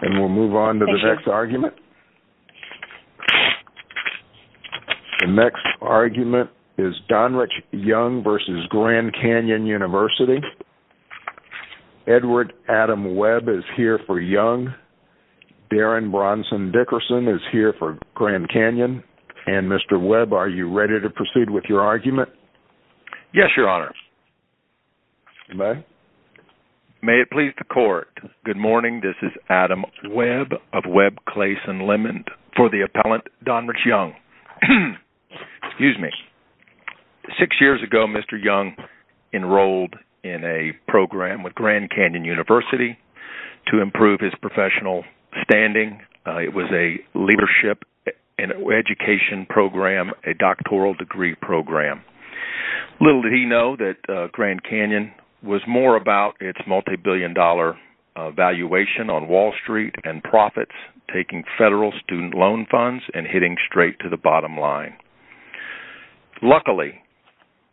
And we'll move on to the next argument. The next argument is Donrich Young v. Grand Canyon University. Edward Adam Webb is here for Young. Darren Bronson Dickerson is here for Grand Canyon. And, Mr. Webb, are you ready to proceed with your argument? Yes, Your Honor. You may. May it please the Court, good morning. This is Adam Webb of Webb, Clayson, and Lemon for the appellant, Donrich Young. Excuse me. Six years ago, Mr. Young enrolled in a program with Grand Canyon University to improve his professional standing. It was a leadership education program, a doctoral degree program. Little did he know that Grand Canyon was more about its multi-billion dollar valuation on Wall Street and profits, taking federal student loan funds and hitting straight to the bottom line. Luckily,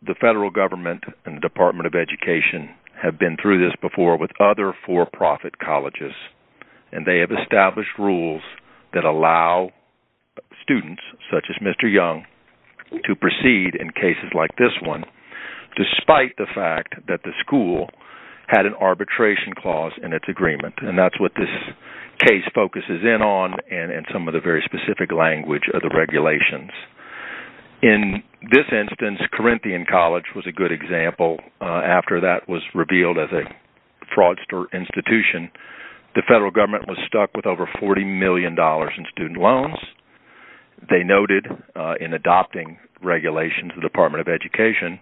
the federal government and the Department of Education have been through this before with other for-profit colleges. And they have established rules that allow students, such as Mr. Young, to proceed in cases like this one, despite the fact that the school had an arbitration clause in its agreement. And that's what this case focuses in on and some of the very specific language of the regulations. In this instance, Corinthian College was a good example. After that was revealed as a fraudster institution, the federal government was stuck with over $40 million in student loans. They noted in adopting regulations in the Department of Education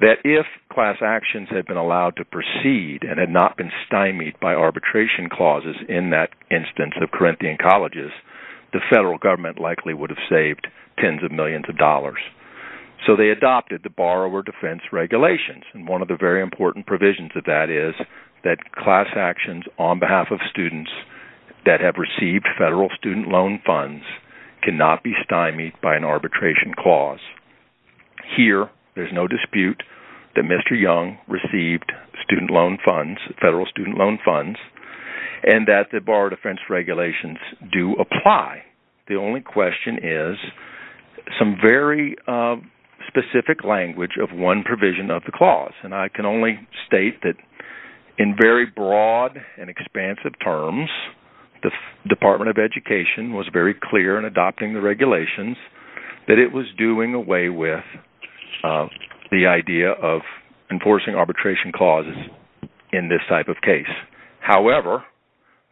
that if class actions had been allowed to proceed and had not been stymied by arbitration clauses in that instance of Corinthian Colleges, the federal government likely would have saved tens of millions of dollars. So they adopted the borrower defense regulations. And one of the very important provisions of that is that class actions on behalf of students that have received federal student loan funds cannot be stymied by an arbitration clause. Here, there's no dispute that Mr. Young received federal student loan funds and that the borrower defense regulations do apply. The only question is some very specific language of one provision of the clause. And I can only state that in very broad and expansive terms, the Department of Education was very clear in adopting the regulations that it was doing away with the idea of enforcing arbitration clauses in this type of case. However,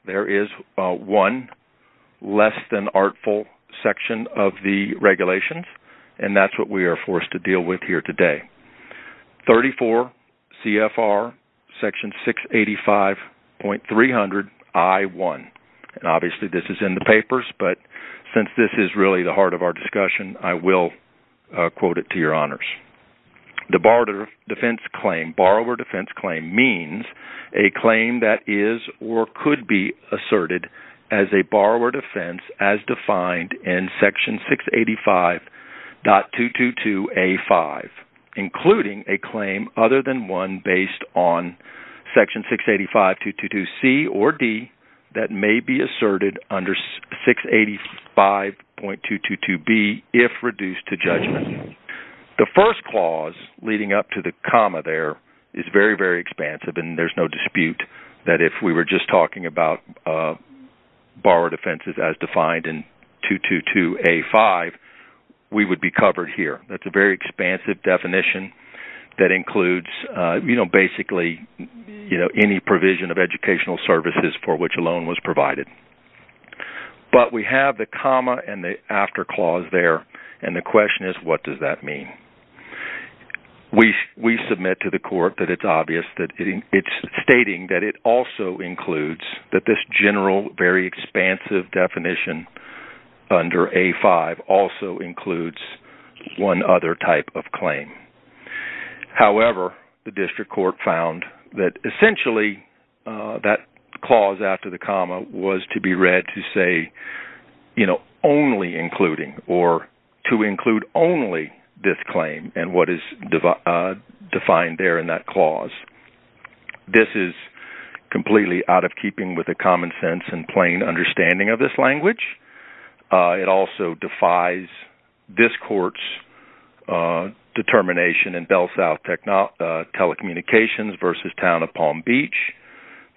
there is one less than artful section of the regulations, and that's what we are forced to deal with here today. 34 CFR section 685.300 I1. And obviously this is in the papers, but since this is really the heart of our discussion, I will quote it to your honors. The borrower defense claim means a claim that is or could be asserted as a borrower defense as defined in section 685.222A5, including a claim other than one based on section 685.222C or D that may be asserted under 685.222B if reduced to judgment. The first clause leading up to the comma there is very, very expansive, and there is no dispute that if we were just talking about borrower defenses as defined in 222A5, we would be covered here. That's a very expansive definition that includes basically any provision of educational services for which a loan was provided. But we have the comma and the after clause there, and the question is what does that mean? We submit to the court that it's obvious that it's stating that it also includes that this general, very expansive definition under A5 also includes one other type of claim. However, the district court found that essentially that clause after the comma was to be read to say, you know, only including or to include only this claim and what is defined there in that clause. This is completely out of keeping with the common sense and plain understanding of this language. It also defies this court's determination in Bell South Telecommunications v. Town of Palm Beach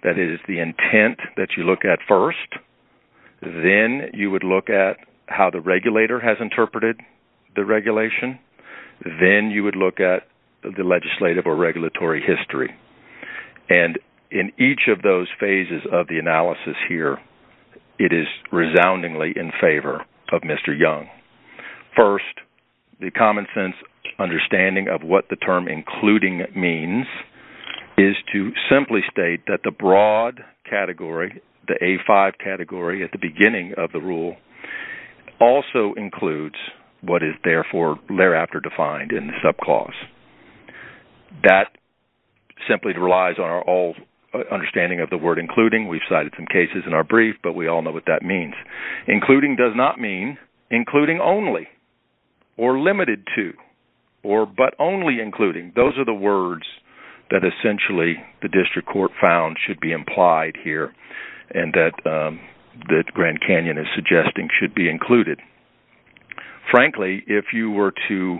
that it is the intent that you look at first. Then you would look at how the regulator has interpreted the regulation. Then you would look at the legislative or regulatory history. And in each of those phases of the analysis here, it is resoundingly in favor of Mr. Young. First, the common sense understanding of what the term including means is to simply state that the broad category, the A5 category at the beginning of the rule, also includes what is therefore thereafter defined in the subclause. That simply relies on our understanding of the word including. We've cited some cases in our brief, but we all know what that means. Including does not mean including only or limited to or but only including. Those are the words that essentially the district court found should be implied here and that Grand Canyon is suggesting should be included. Frankly, if you were to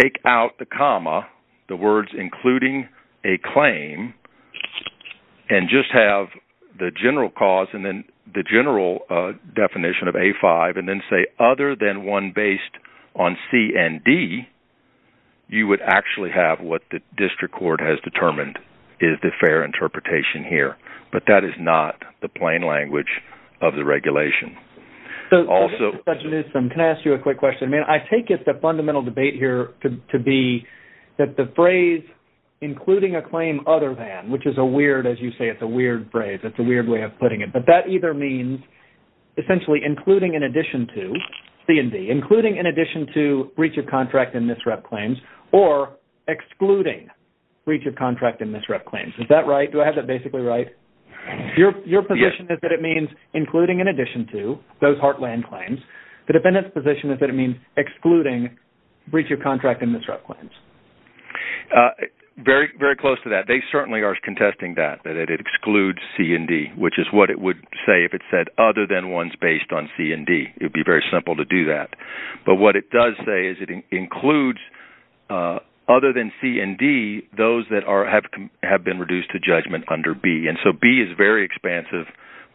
take out the comma, the words including a claim, and just have the general cause and the general definition of A5 and then say other than one based on C and D, you would actually have what the district court has determined is the fair interpretation here. But that is not the plain language of the regulation. Can I ask you a quick question? I take it the fundamental debate here to be that the phrase including a claim other than, which is a weird, as you say, it's a weird phrase. It's a weird way of putting it. But that either means essentially including in addition to C and D, including in addition to breach of contract and misrep claims, or excluding breach of contract and misrep claims. Is that right? Do I have that basically right? Your position is that it means including in addition to those heartland claims. The defendant's position is that it means excluding breach of contract and misrep claims. Very close to that. They certainly are contesting that, that it excludes C and D, which is what it would say if it said other than ones based on C and D. It would be very simple to do that. But what it does say is it includes other than C and D, those that have been reduced to judgment under B. And so B is very expansive.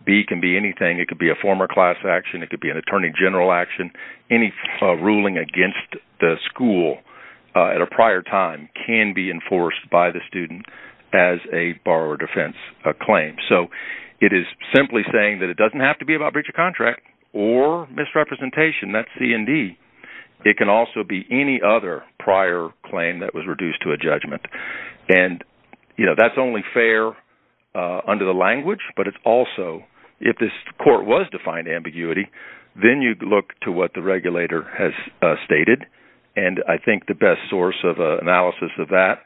B can be anything. It could be a former class action. It could be an attorney general action. Any ruling against the school at a prior time can be enforced by the student as a borrower defense claim. So it is simply saying that it doesn't have to be about breach of contract or misrepresentation. That's C and D. It can also be any other prior claim that was reduced to a judgment. And, you know, that's only fair under the language. But it's also, if this court was defined ambiguity, then you look to what the regulator has stated. And I think the best source of analysis of that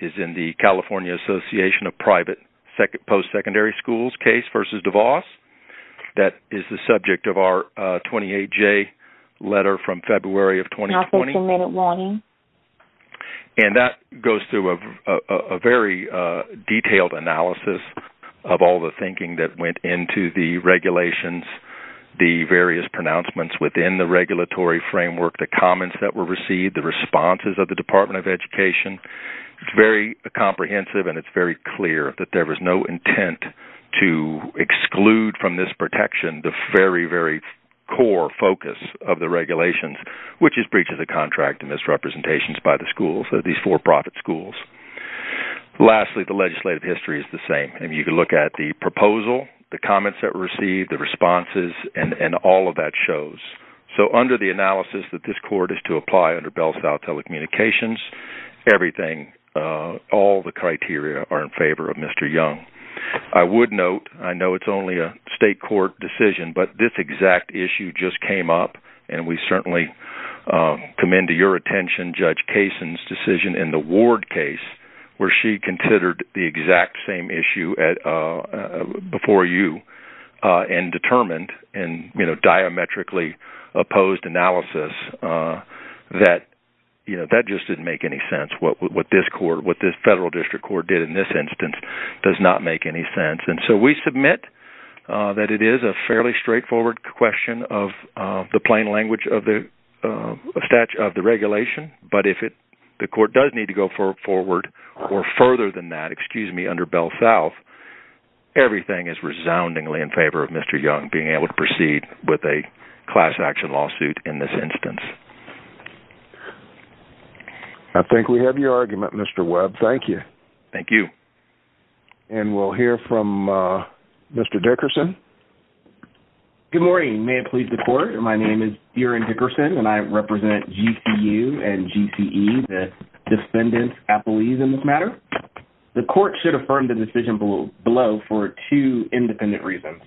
is in the California Association of Private Post-Secondary Schools case versus DeVos. That is the subject of our 28-J letter from February of 2020. And that goes through a very detailed analysis of all the things. The thinking that went into the regulations, the various pronouncements within the regulatory framework, the comments that were received, the responses of the Department of Education. It's very comprehensive and it's very clear that there was no intent to exclude from this protection the very, very core focus of the regulations, which is breach of the contract and misrepresentations by the schools, these for-profit schools. Lastly, the legislative history is the same. And you can look at the proposal, the comments that were received, the responses, and all of that shows. So under the analysis that this court is to apply under Bells Vow Telecommunications, everything, all the criteria are in favor of Mr. Young. I would note, I know it's only a state court decision, but this exact issue just came up. And we certainly commend to your attention Judge Kasin's decision in the Ward case where she considered the exact same issue before you and determined in diametrically opposed analysis that that just didn't make any sense. What this federal district court did in this instance does not make any sense. And so we submit that it is a fairly straightforward question of the plain language of the regulation, but if the court does need to go forward or further than that, excuse me, under Bells Vow, everything is resoundingly in favor of Mr. Young being able to proceed with a class action lawsuit in this instance. I think we have your argument, Mr. Webb. Thank you. Thank you. And we'll hear from Mr. Dickerson. Good morning. May it please the court. My name is Duran Dickerson, and I represent GCU and GCE, the defendant's affilies in this matter. The court should affirm the decision below for two independent reasons.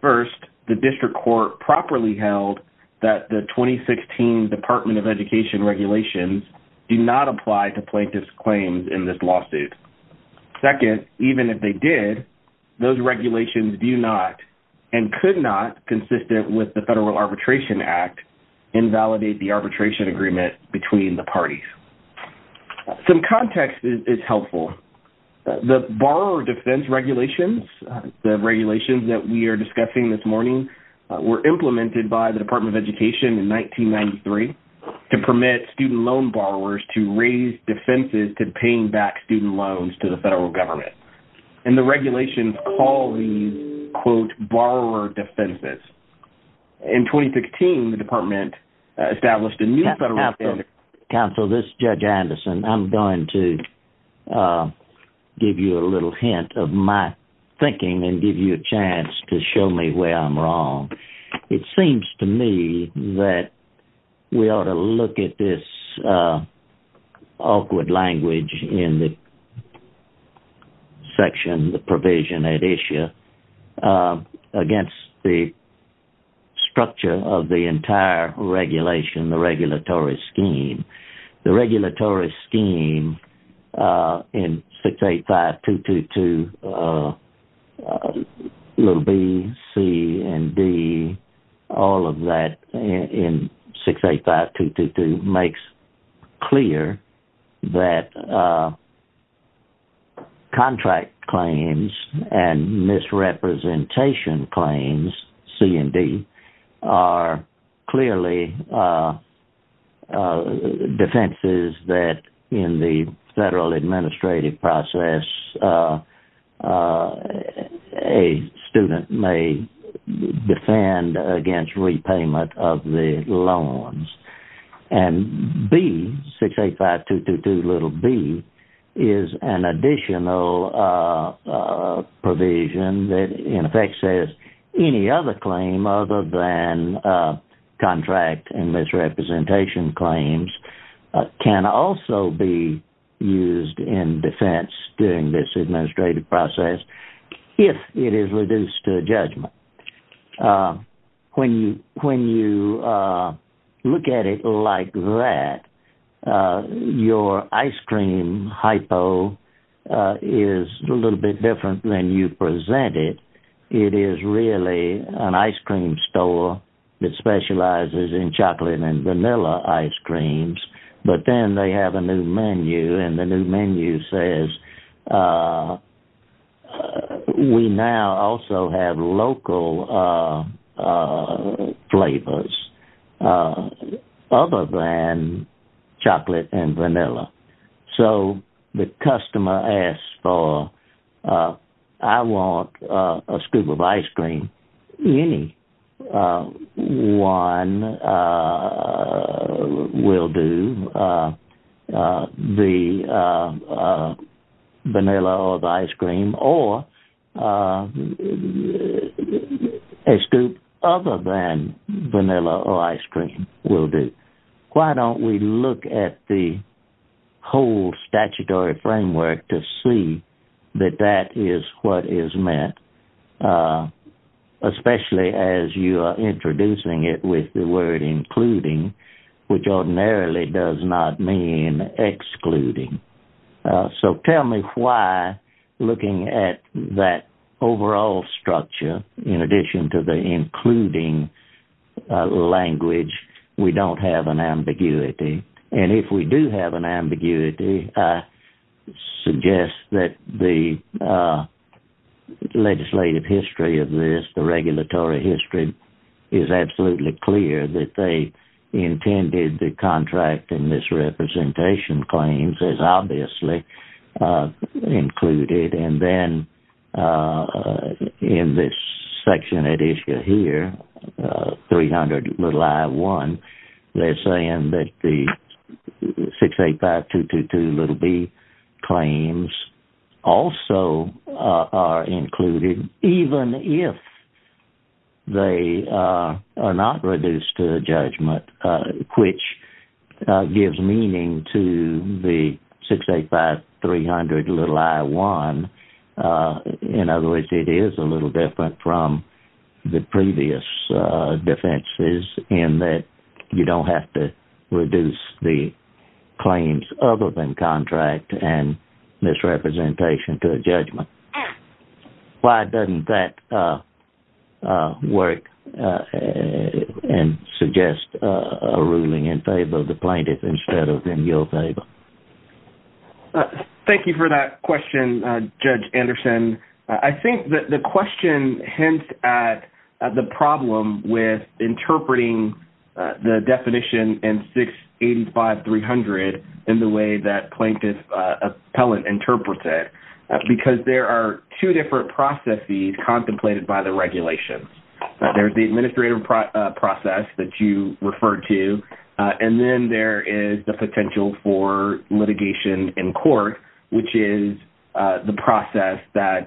First, the district court properly held that the 2016 Department of Education regulations do not apply to plaintiff's claims in this lawsuit. Second, even if they did, those regulations do not and could not, consistent with the Federal Arbitration Act, invalidate the arbitration agreement between the parties. Some context is helpful. The borrower defense regulations, the regulations that we are discussing this morning, were implemented by the Department of Education in 1993 to permit student loan borrowers to raise defenses to paying back student loans to the federal government. And the regulations call these, quote, borrower defenses. In 2016, the department established a new federal standard. Counsel, this is Judge Anderson. I'm going to give you a little hint of my thinking and give you a chance to show me where I'm wrong. It seems to me that we ought to look at this awkward language in the section, the provision at issue, against the structure of the entire regulation, the regulatory scheme. The regulatory scheme in 685222, little b, c, and d, all of that in 685222, makes clear that contract claims and misrepresentation claims, c and d, are clearly defenses that in the federal administrative process, a student may defend against repayment of the loans. And b, 685222, little b, is an additional provision that in effect says any other claim other than contract and misrepresentation claims can also be used in defense during this administrative process if it is reduced to a judgment. When you look at it like that, your ice cream hypo is a little bit different than you present it. It is really an ice cream store that specializes in chocolate and vanilla ice creams, but then they have a new menu and the new menu says, we now also have local flavors other than chocolate and vanilla. So the customer asks for, I want a scoop of ice cream. Anyone will do the vanilla or the ice cream, or a scoop other than vanilla or ice cream will do. Why don't we look at the whole statutory framework to see that that is what is meant, especially as you are introducing it with the word including, which ordinarily does not mean excluding. So tell me why, looking at that overall structure, in addition to the including language, we don't have an ambiguity. And if we do have an ambiguity, I suggest that the legislative history of this, the regulatory history is absolutely clear that they intended the contract and misrepresentation claims as obviously included. And then in this section that is here, 300 i1, they are saying that the 685222b claims also are included, even if they are not reduced to a judgment, which gives meaning to the 685300i1. In other words, it is a little different from the previous defenses in that you don't have to reduce the claims other than contract and misrepresentation to a judgment. Why doesn't that work and suggest a ruling in favor of the plaintiff instead of in your favor? Thank you for that question, Judge Anderson. I think that the question hints at the problem with interpreting the definition in 685300 in the way that plaintiff appellant interprets it because there are two different processes contemplated by the regulations. There's the administrative process that you referred to, and then there is the potential for litigation in court, which is the process that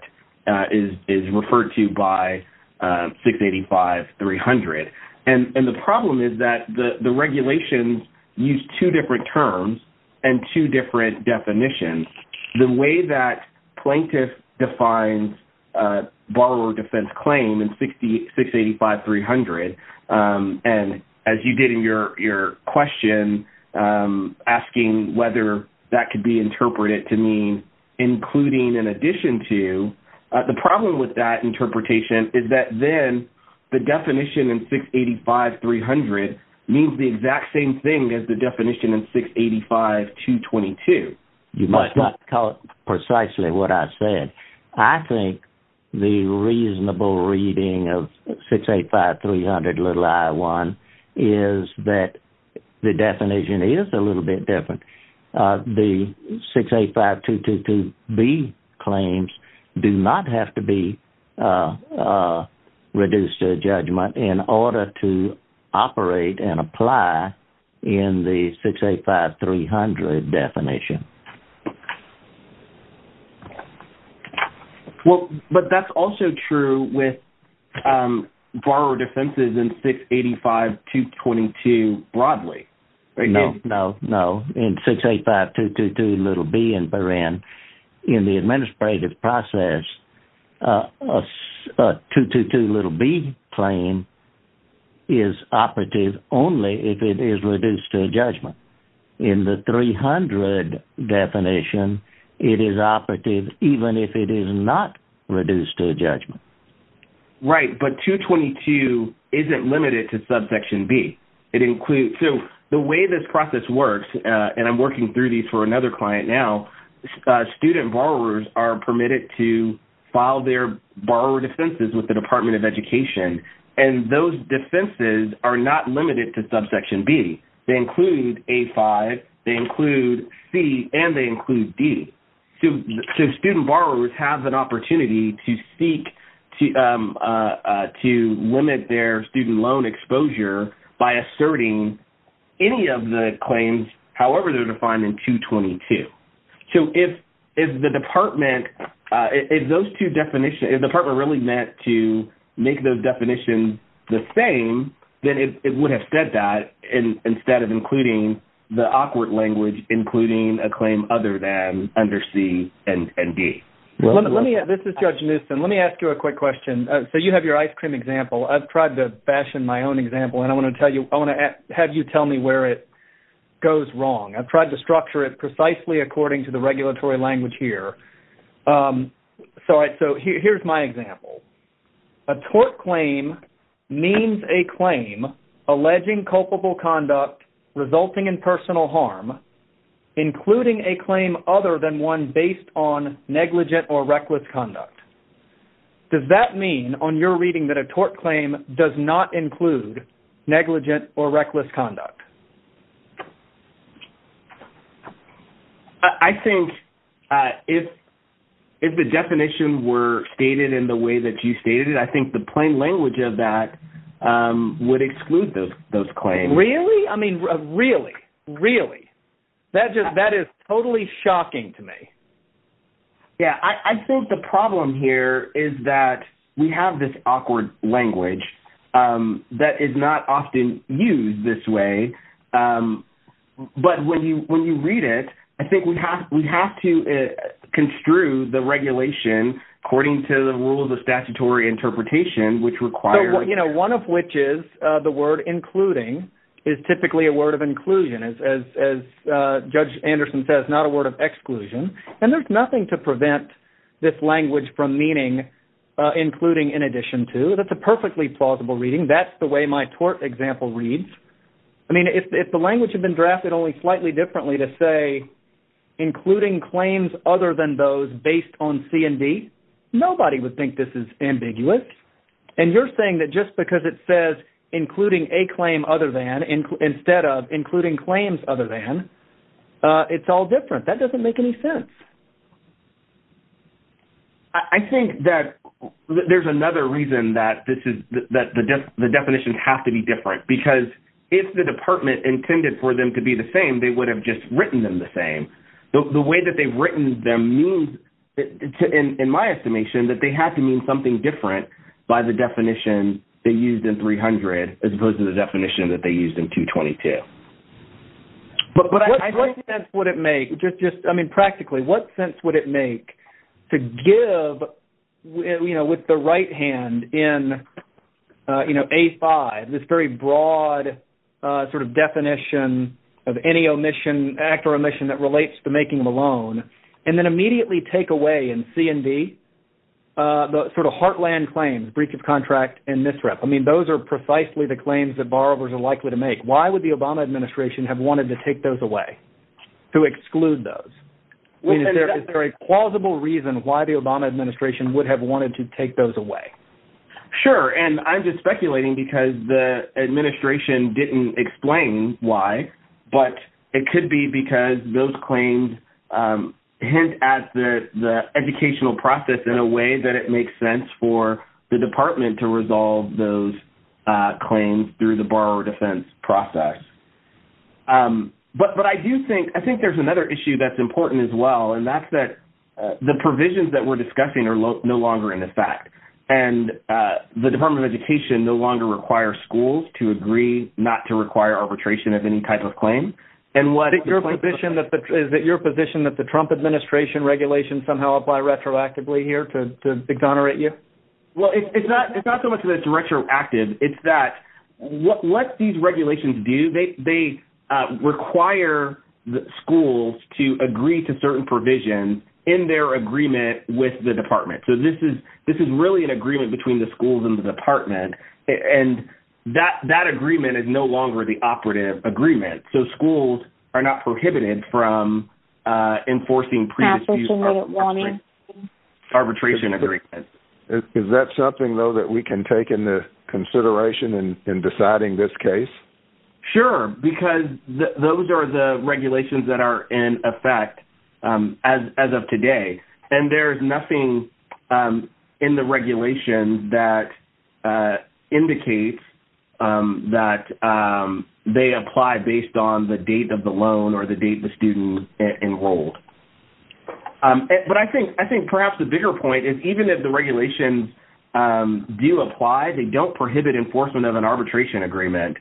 is referred to by 685300. And the problem is that the regulations use two different terms and two different definitions. The way that plaintiff defines borrower defense claim in 685300, and as you did in your question asking whether that could be interpreted to mean including in addition to, the problem with that interpretation is that then the definition in 685300 means the exact same thing as the definition in 685222. You must not call it precisely what I said. I think the reasonable reading of 685300i1 is that the definition is a little bit different. The 685222b claims do not have to be reduced to a judgment in order to operate and apply in the 685300 definition. But that's also true with borrower defenses in 685222 broadly. No, no, no. In 685222b in the administrative process, a 222b claim is operative only if it is reduced to a judgment. In the 300 definition, it is operative even if it is not reduced to a judgment. Right, but 222 isn't limited to subsection b. The way this process works, and I'm working through these for another client now, student borrowers are permitted to file their borrower defenses with the Department of Education, and those defenses are not limited to subsection b. They include a5, they include c, and they include d. So student borrowers have an opportunity to limit their student loan exposure by asserting any of the claims, however they're defined in 222. So if the department really meant to make those definitions the same, then it would have said that instead of including the awkward language including a claim other than under c and d. This is Judge Newsom. Let me ask you a quick question. So you have your ice cream example. I've tried to fashion my own example, and I want to have you tell me where it goes wrong. I've tried to structure it precisely according to the regulatory language here. So here's my example. A tort claim means a claim alleging culpable conduct resulting in personal harm, including a claim other than one based on negligent or reckless conduct. Does that mean on your reading that a tort claim does not include negligent or reckless conduct? I think if the definition were stated in the way that you stated it, I think the plain language of that would exclude those claims. Really? I mean, really? Really? That is totally shocking to me. Yeah, I think the problem here is that we have this awkward language that is not often used this way. But when you read it, I think we have to construe the regulation according to the rules of statutory interpretation, One of which is the word including is typically a word of inclusion, as Judge Anderson says, not a word of exclusion. And there's nothing to prevent this language from meaning including in addition to. That's a perfectly plausible reading. That's the way my tort example reads. I mean, if the language had been drafted only slightly differently to say including claims other than those based on C and D, nobody would think this is ambiguous. And you're saying that just because it says including a claim other than instead of including claims other than, it's all different. That doesn't make any sense. I think that there's another reason that the definitions have to be different. Because if the department intended for them to be the same, they would have just written them the same. The way that they've written them means, in my estimation, that they have to mean something different by the definition they used in 300 as opposed to the definition that they used in 222. But what sense would it make? I mean, practically, what sense would it make to give with the right hand in A5 this very broad sort of definition of any omission, act or omission, that relates to making the loan and then immediately take away in C and D the sort of heartland claims, breach of contract and misrep. I mean, those are precisely the claims that borrowers are likely to make. Why would the Obama administration have wanted to take those away, to exclude those? I mean, is there a plausible reason why the Obama administration would have wanted to take those away? Sure, and I'm just speculating because the administration didn't explain why, but it could be because those claims hint at the educational process in a way that it makes sense for the department to resolve those claims through the borrower defense process. But I do think there's another issue that's important as well, and that's that the provisions that we're discussing are no longer in effect and the Department of Education no longer requires schools to agree not to require arbitration of any type of claim. Is it your position that the Trump administration regulations somehow apply retroactively here to exonerate you? Well, it's not so much that it's retroactive. It's that what these regulations do, they require schools to agree to certain provisions in their agreement with the department. So this is really an agreement between the schools and the department, and that agreement is no longer the operative agreement. So schools are not prohibited from enforcing pre-dispute arbitration agreements. Is that something, though, that we can take into consideration in deciding this case? Sure, because those are the regulations that are in effect as of today, and there's nothing in the regulation that indicates that they apply based on the date of the loan or the date the student enrolled. But I think perhaps the bigger point is even if the regulations do apply, they don't prohibit enforcement of an arbitration agreement.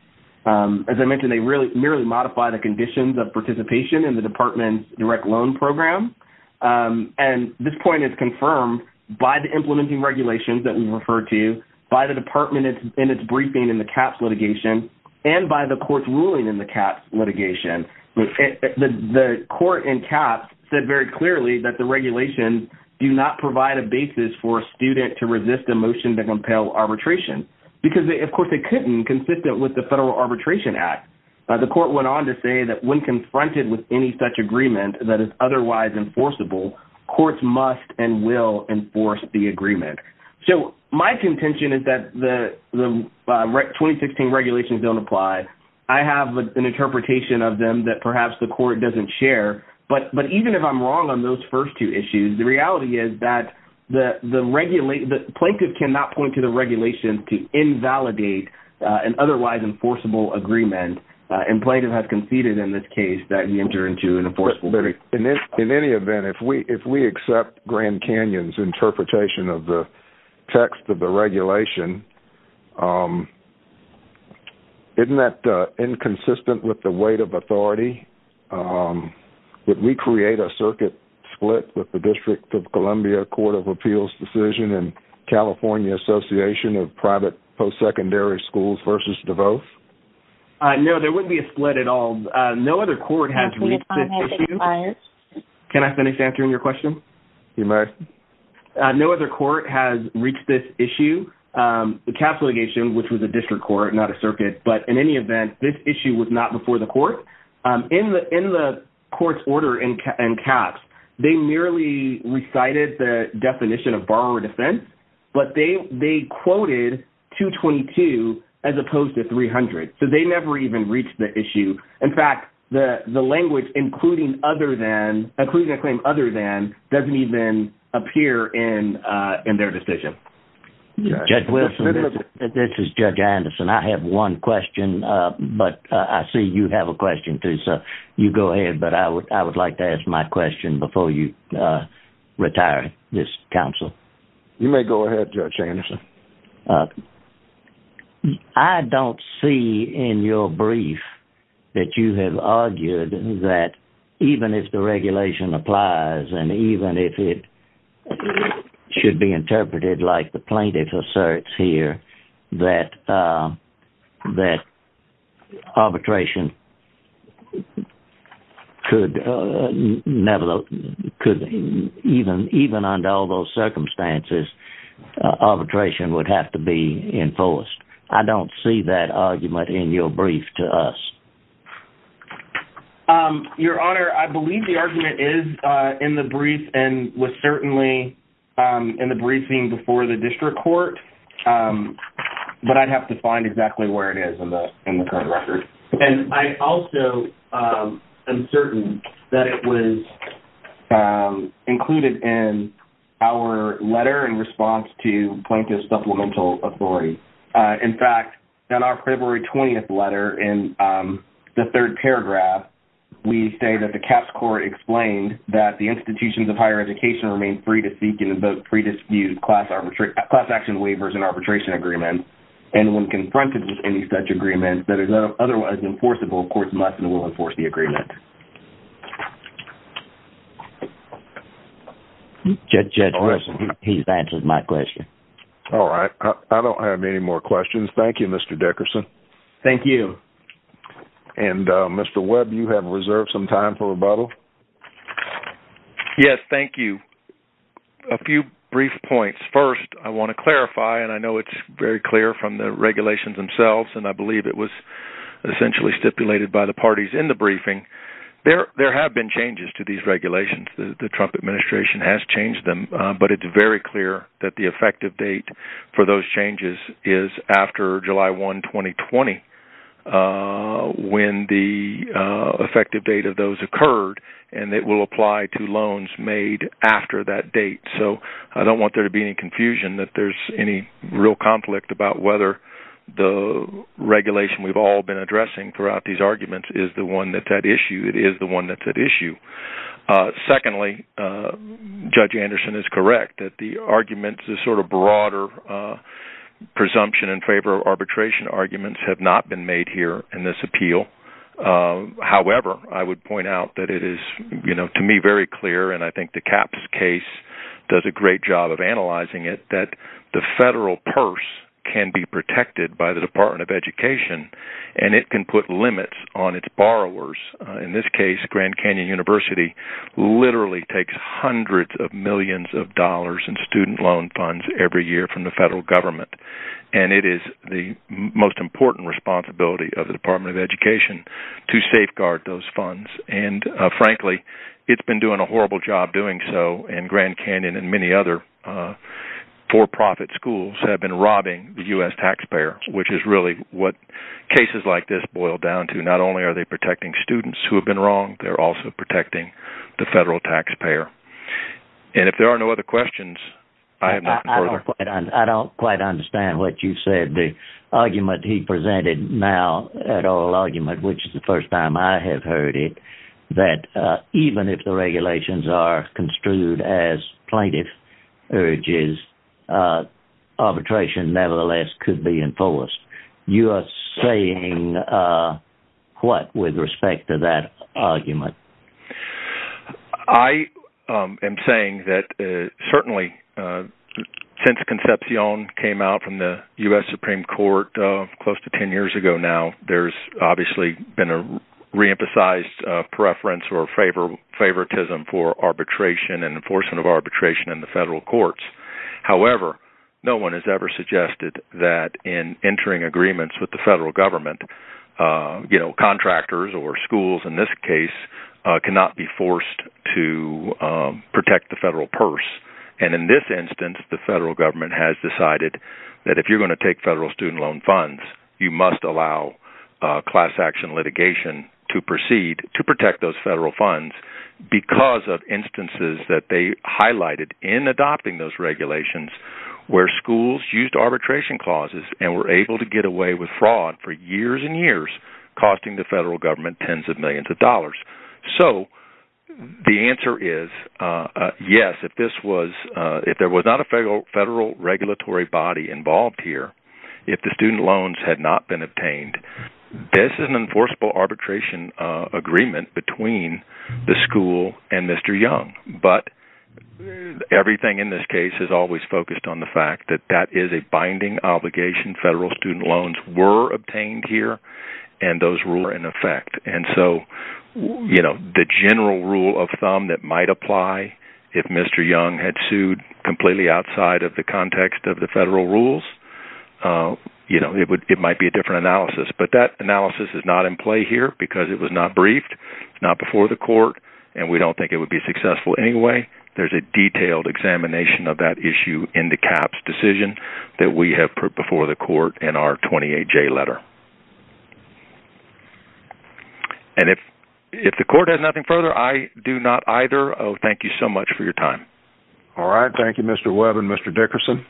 As I mentioned, they merely modify the conditions of participation in the department's direct loan program, and this point is confirmed by the implementing regulations that we referred to, by the department in its briefing in the CAPS litigation, and by the court's ruling in the CAPS litigation. The court in CAPS said very clearly that the regulations do not provide a basis for a student to resist a motion to compel arbitration because, of course, they couldn't consistent with the Federal Arbitration Act. The court went on to say that when confronted with any such agreement that is otherwise enforceable, courts must and will enforce the agreement. So my contention is that the 2016 regulations don't apply. I have an interpretation of them that perhaps the court doesn't share, but even if I'm wrong on those first two issues, the reality is that the plaintiff cannot point to the regulations to invalidate an otherwise enforceable agreement, and plaintiff has conceded in this case that he entered into an enforceable agreement. In any event, if we accept Grand Canyon's interpretation of the text of the regulation, isn't that inconsistent with the weight of authority? Would we create a circuit split with the District of Columbia Court of Appeals decision and California Association of Private Post-Secondary Schools v. DeVos? No, there wouldn't be a split at all. No other court has reached this issue. Can I finish answering your question? You may. No other court has reached this issue. The cap litigation, which was a district court, not a circuit, but in any event, this issue was not before the court. In the court's order and caps, they merely recited the definition of borrower defense, but they quoted $222,000 as opposed to $300,000. So they never even reached the issue. In fact, the language, including a claim other than, doesn't even appear in their decision. Judge Wilson, this is Judge Anderson. I have one question, but I see you have a question too, so you go ahead, but I would like to ask my question before you retire this counsel. You may go ahead, Judge Anderson. I don't see in your brief that you have argued that even if the regulation applies and even if it should be interpreted like the plaintiff asserts here that arbitration could never, even under all those circumstances, arbitration would have to be enforced. I don't see that argument in your brief to us. Your Honor, I believe the argument is in the brief and was certainly in the briefing before the district court, but I'd have to find exactly where it is in the current record. And I also am certain that it was included in our letter in response to Plaintiff Supplemental Authority. In fact, in our February 20th letter, in the third paragraph, we say that the CAPS Court explained that the institutions of higher education remain free to seek and vote pre-dispute class action waivers and arbitration agreements and when confronted with any such agreement that is otherwise enforceable, courts must and will enforce the agreement. Judge, he's answered my question. All right. I don't have any more questions. Thank you, Mr. Dickerson. Thank you. And Mr. Webb, you have reserved some time for rebuttal. Yes, thank you. A few brief points. First, I want to clarify, and I know it's very clear from the regulations themselves, and I believe it was essentially stipulated by the parties in the briefing, there have been changes to these regulations. The Trump administration has changed them, but it's very clear that the effective date for those changes is after July 1, 2020, when the effective date of those occurred, and it will apply to loans made after that date. So I don't want there to be any confusion that there's any real conflict about whether the regulation we've all been addressing throughout these arguments is the one that's at issue. It is the one that's at issue. Secondly, Judge Anderson is correct that the arguments, the sort of broader presumption in favor of arbitration arguments have not been made here in this appeal. However, I would point out that it is, you know, to me very clear, and I think the Capps case does a great job of analyzing it, that the federal purse can be protected by the Department of Education, and it can put limits on its borrowers. In this case, Grand Canyon University literally takes hundreds of millions of dollars in student loan funds every year from the federal government, and it is the most important responsibility of the Department of Education to safeguard those funds, and frankly, it's been doing a horrible job doing so, and Grand Canyon and many other for-profit schools have been robbing the U.S. taxpayer, which is really what cases like this boil down to. Not only are they protecting students who have been wronged, they're also protecting the federal taxpayer. And if there are no other questions, I have nothing further. I don't quite understand what you said. The argument he presented now, that oral argument, which is the first time I have heard it, that even if the regulations are construed as plaintiff urges, arbitration nevertheless could be enforced. You are saying what with respect to that argument? I am saying that certainly, since Concepcion came out from the U.S. Supreme Court close to 10 years ago now, there's obviously been a re-emphasized preference or favoritism for arbitration and enforcement of arbitration in the federal courts. However, no one has ever suggested that in entering agreements with the federal government, contractors or schools in this case cannot be forced to protect the federal purse. And in this instance, the federal government has decided that if you're going to take federal student loan funds, you must allow class action litigation to proceed to protect those federal funds because of instances that they highlighted in adopting those regulations where schools used arbitration clauses and were able to get away with fraud for years and years, costing the federal government tens of millions of dollars. So the answer is yes, if there was not a federal regulatory body involved here, if the student loans had not been obtained. This is an enforceable arbitration agreement between the school and Mr. Young, but everything in this case is always focused on the fact that that is a binding obligation. Federal student loans were obtained here and those rules were in effect. And so the general rule of thumb that might apply if Mr. Young had sued completely outside of the context of the federal rules, it might be a different analysis. But that analysis is not in play here because it was not briefed, it's not before the court, and we don't think it would be successful anyway. There's a detailed examination of that issue in the CAHPS decision that we have put before the court in our 28-J letter. And if the court has nothing further, I do not either. Thank you so much for your time. All right, thank you, Mr. Webb and Mr. Dickerson.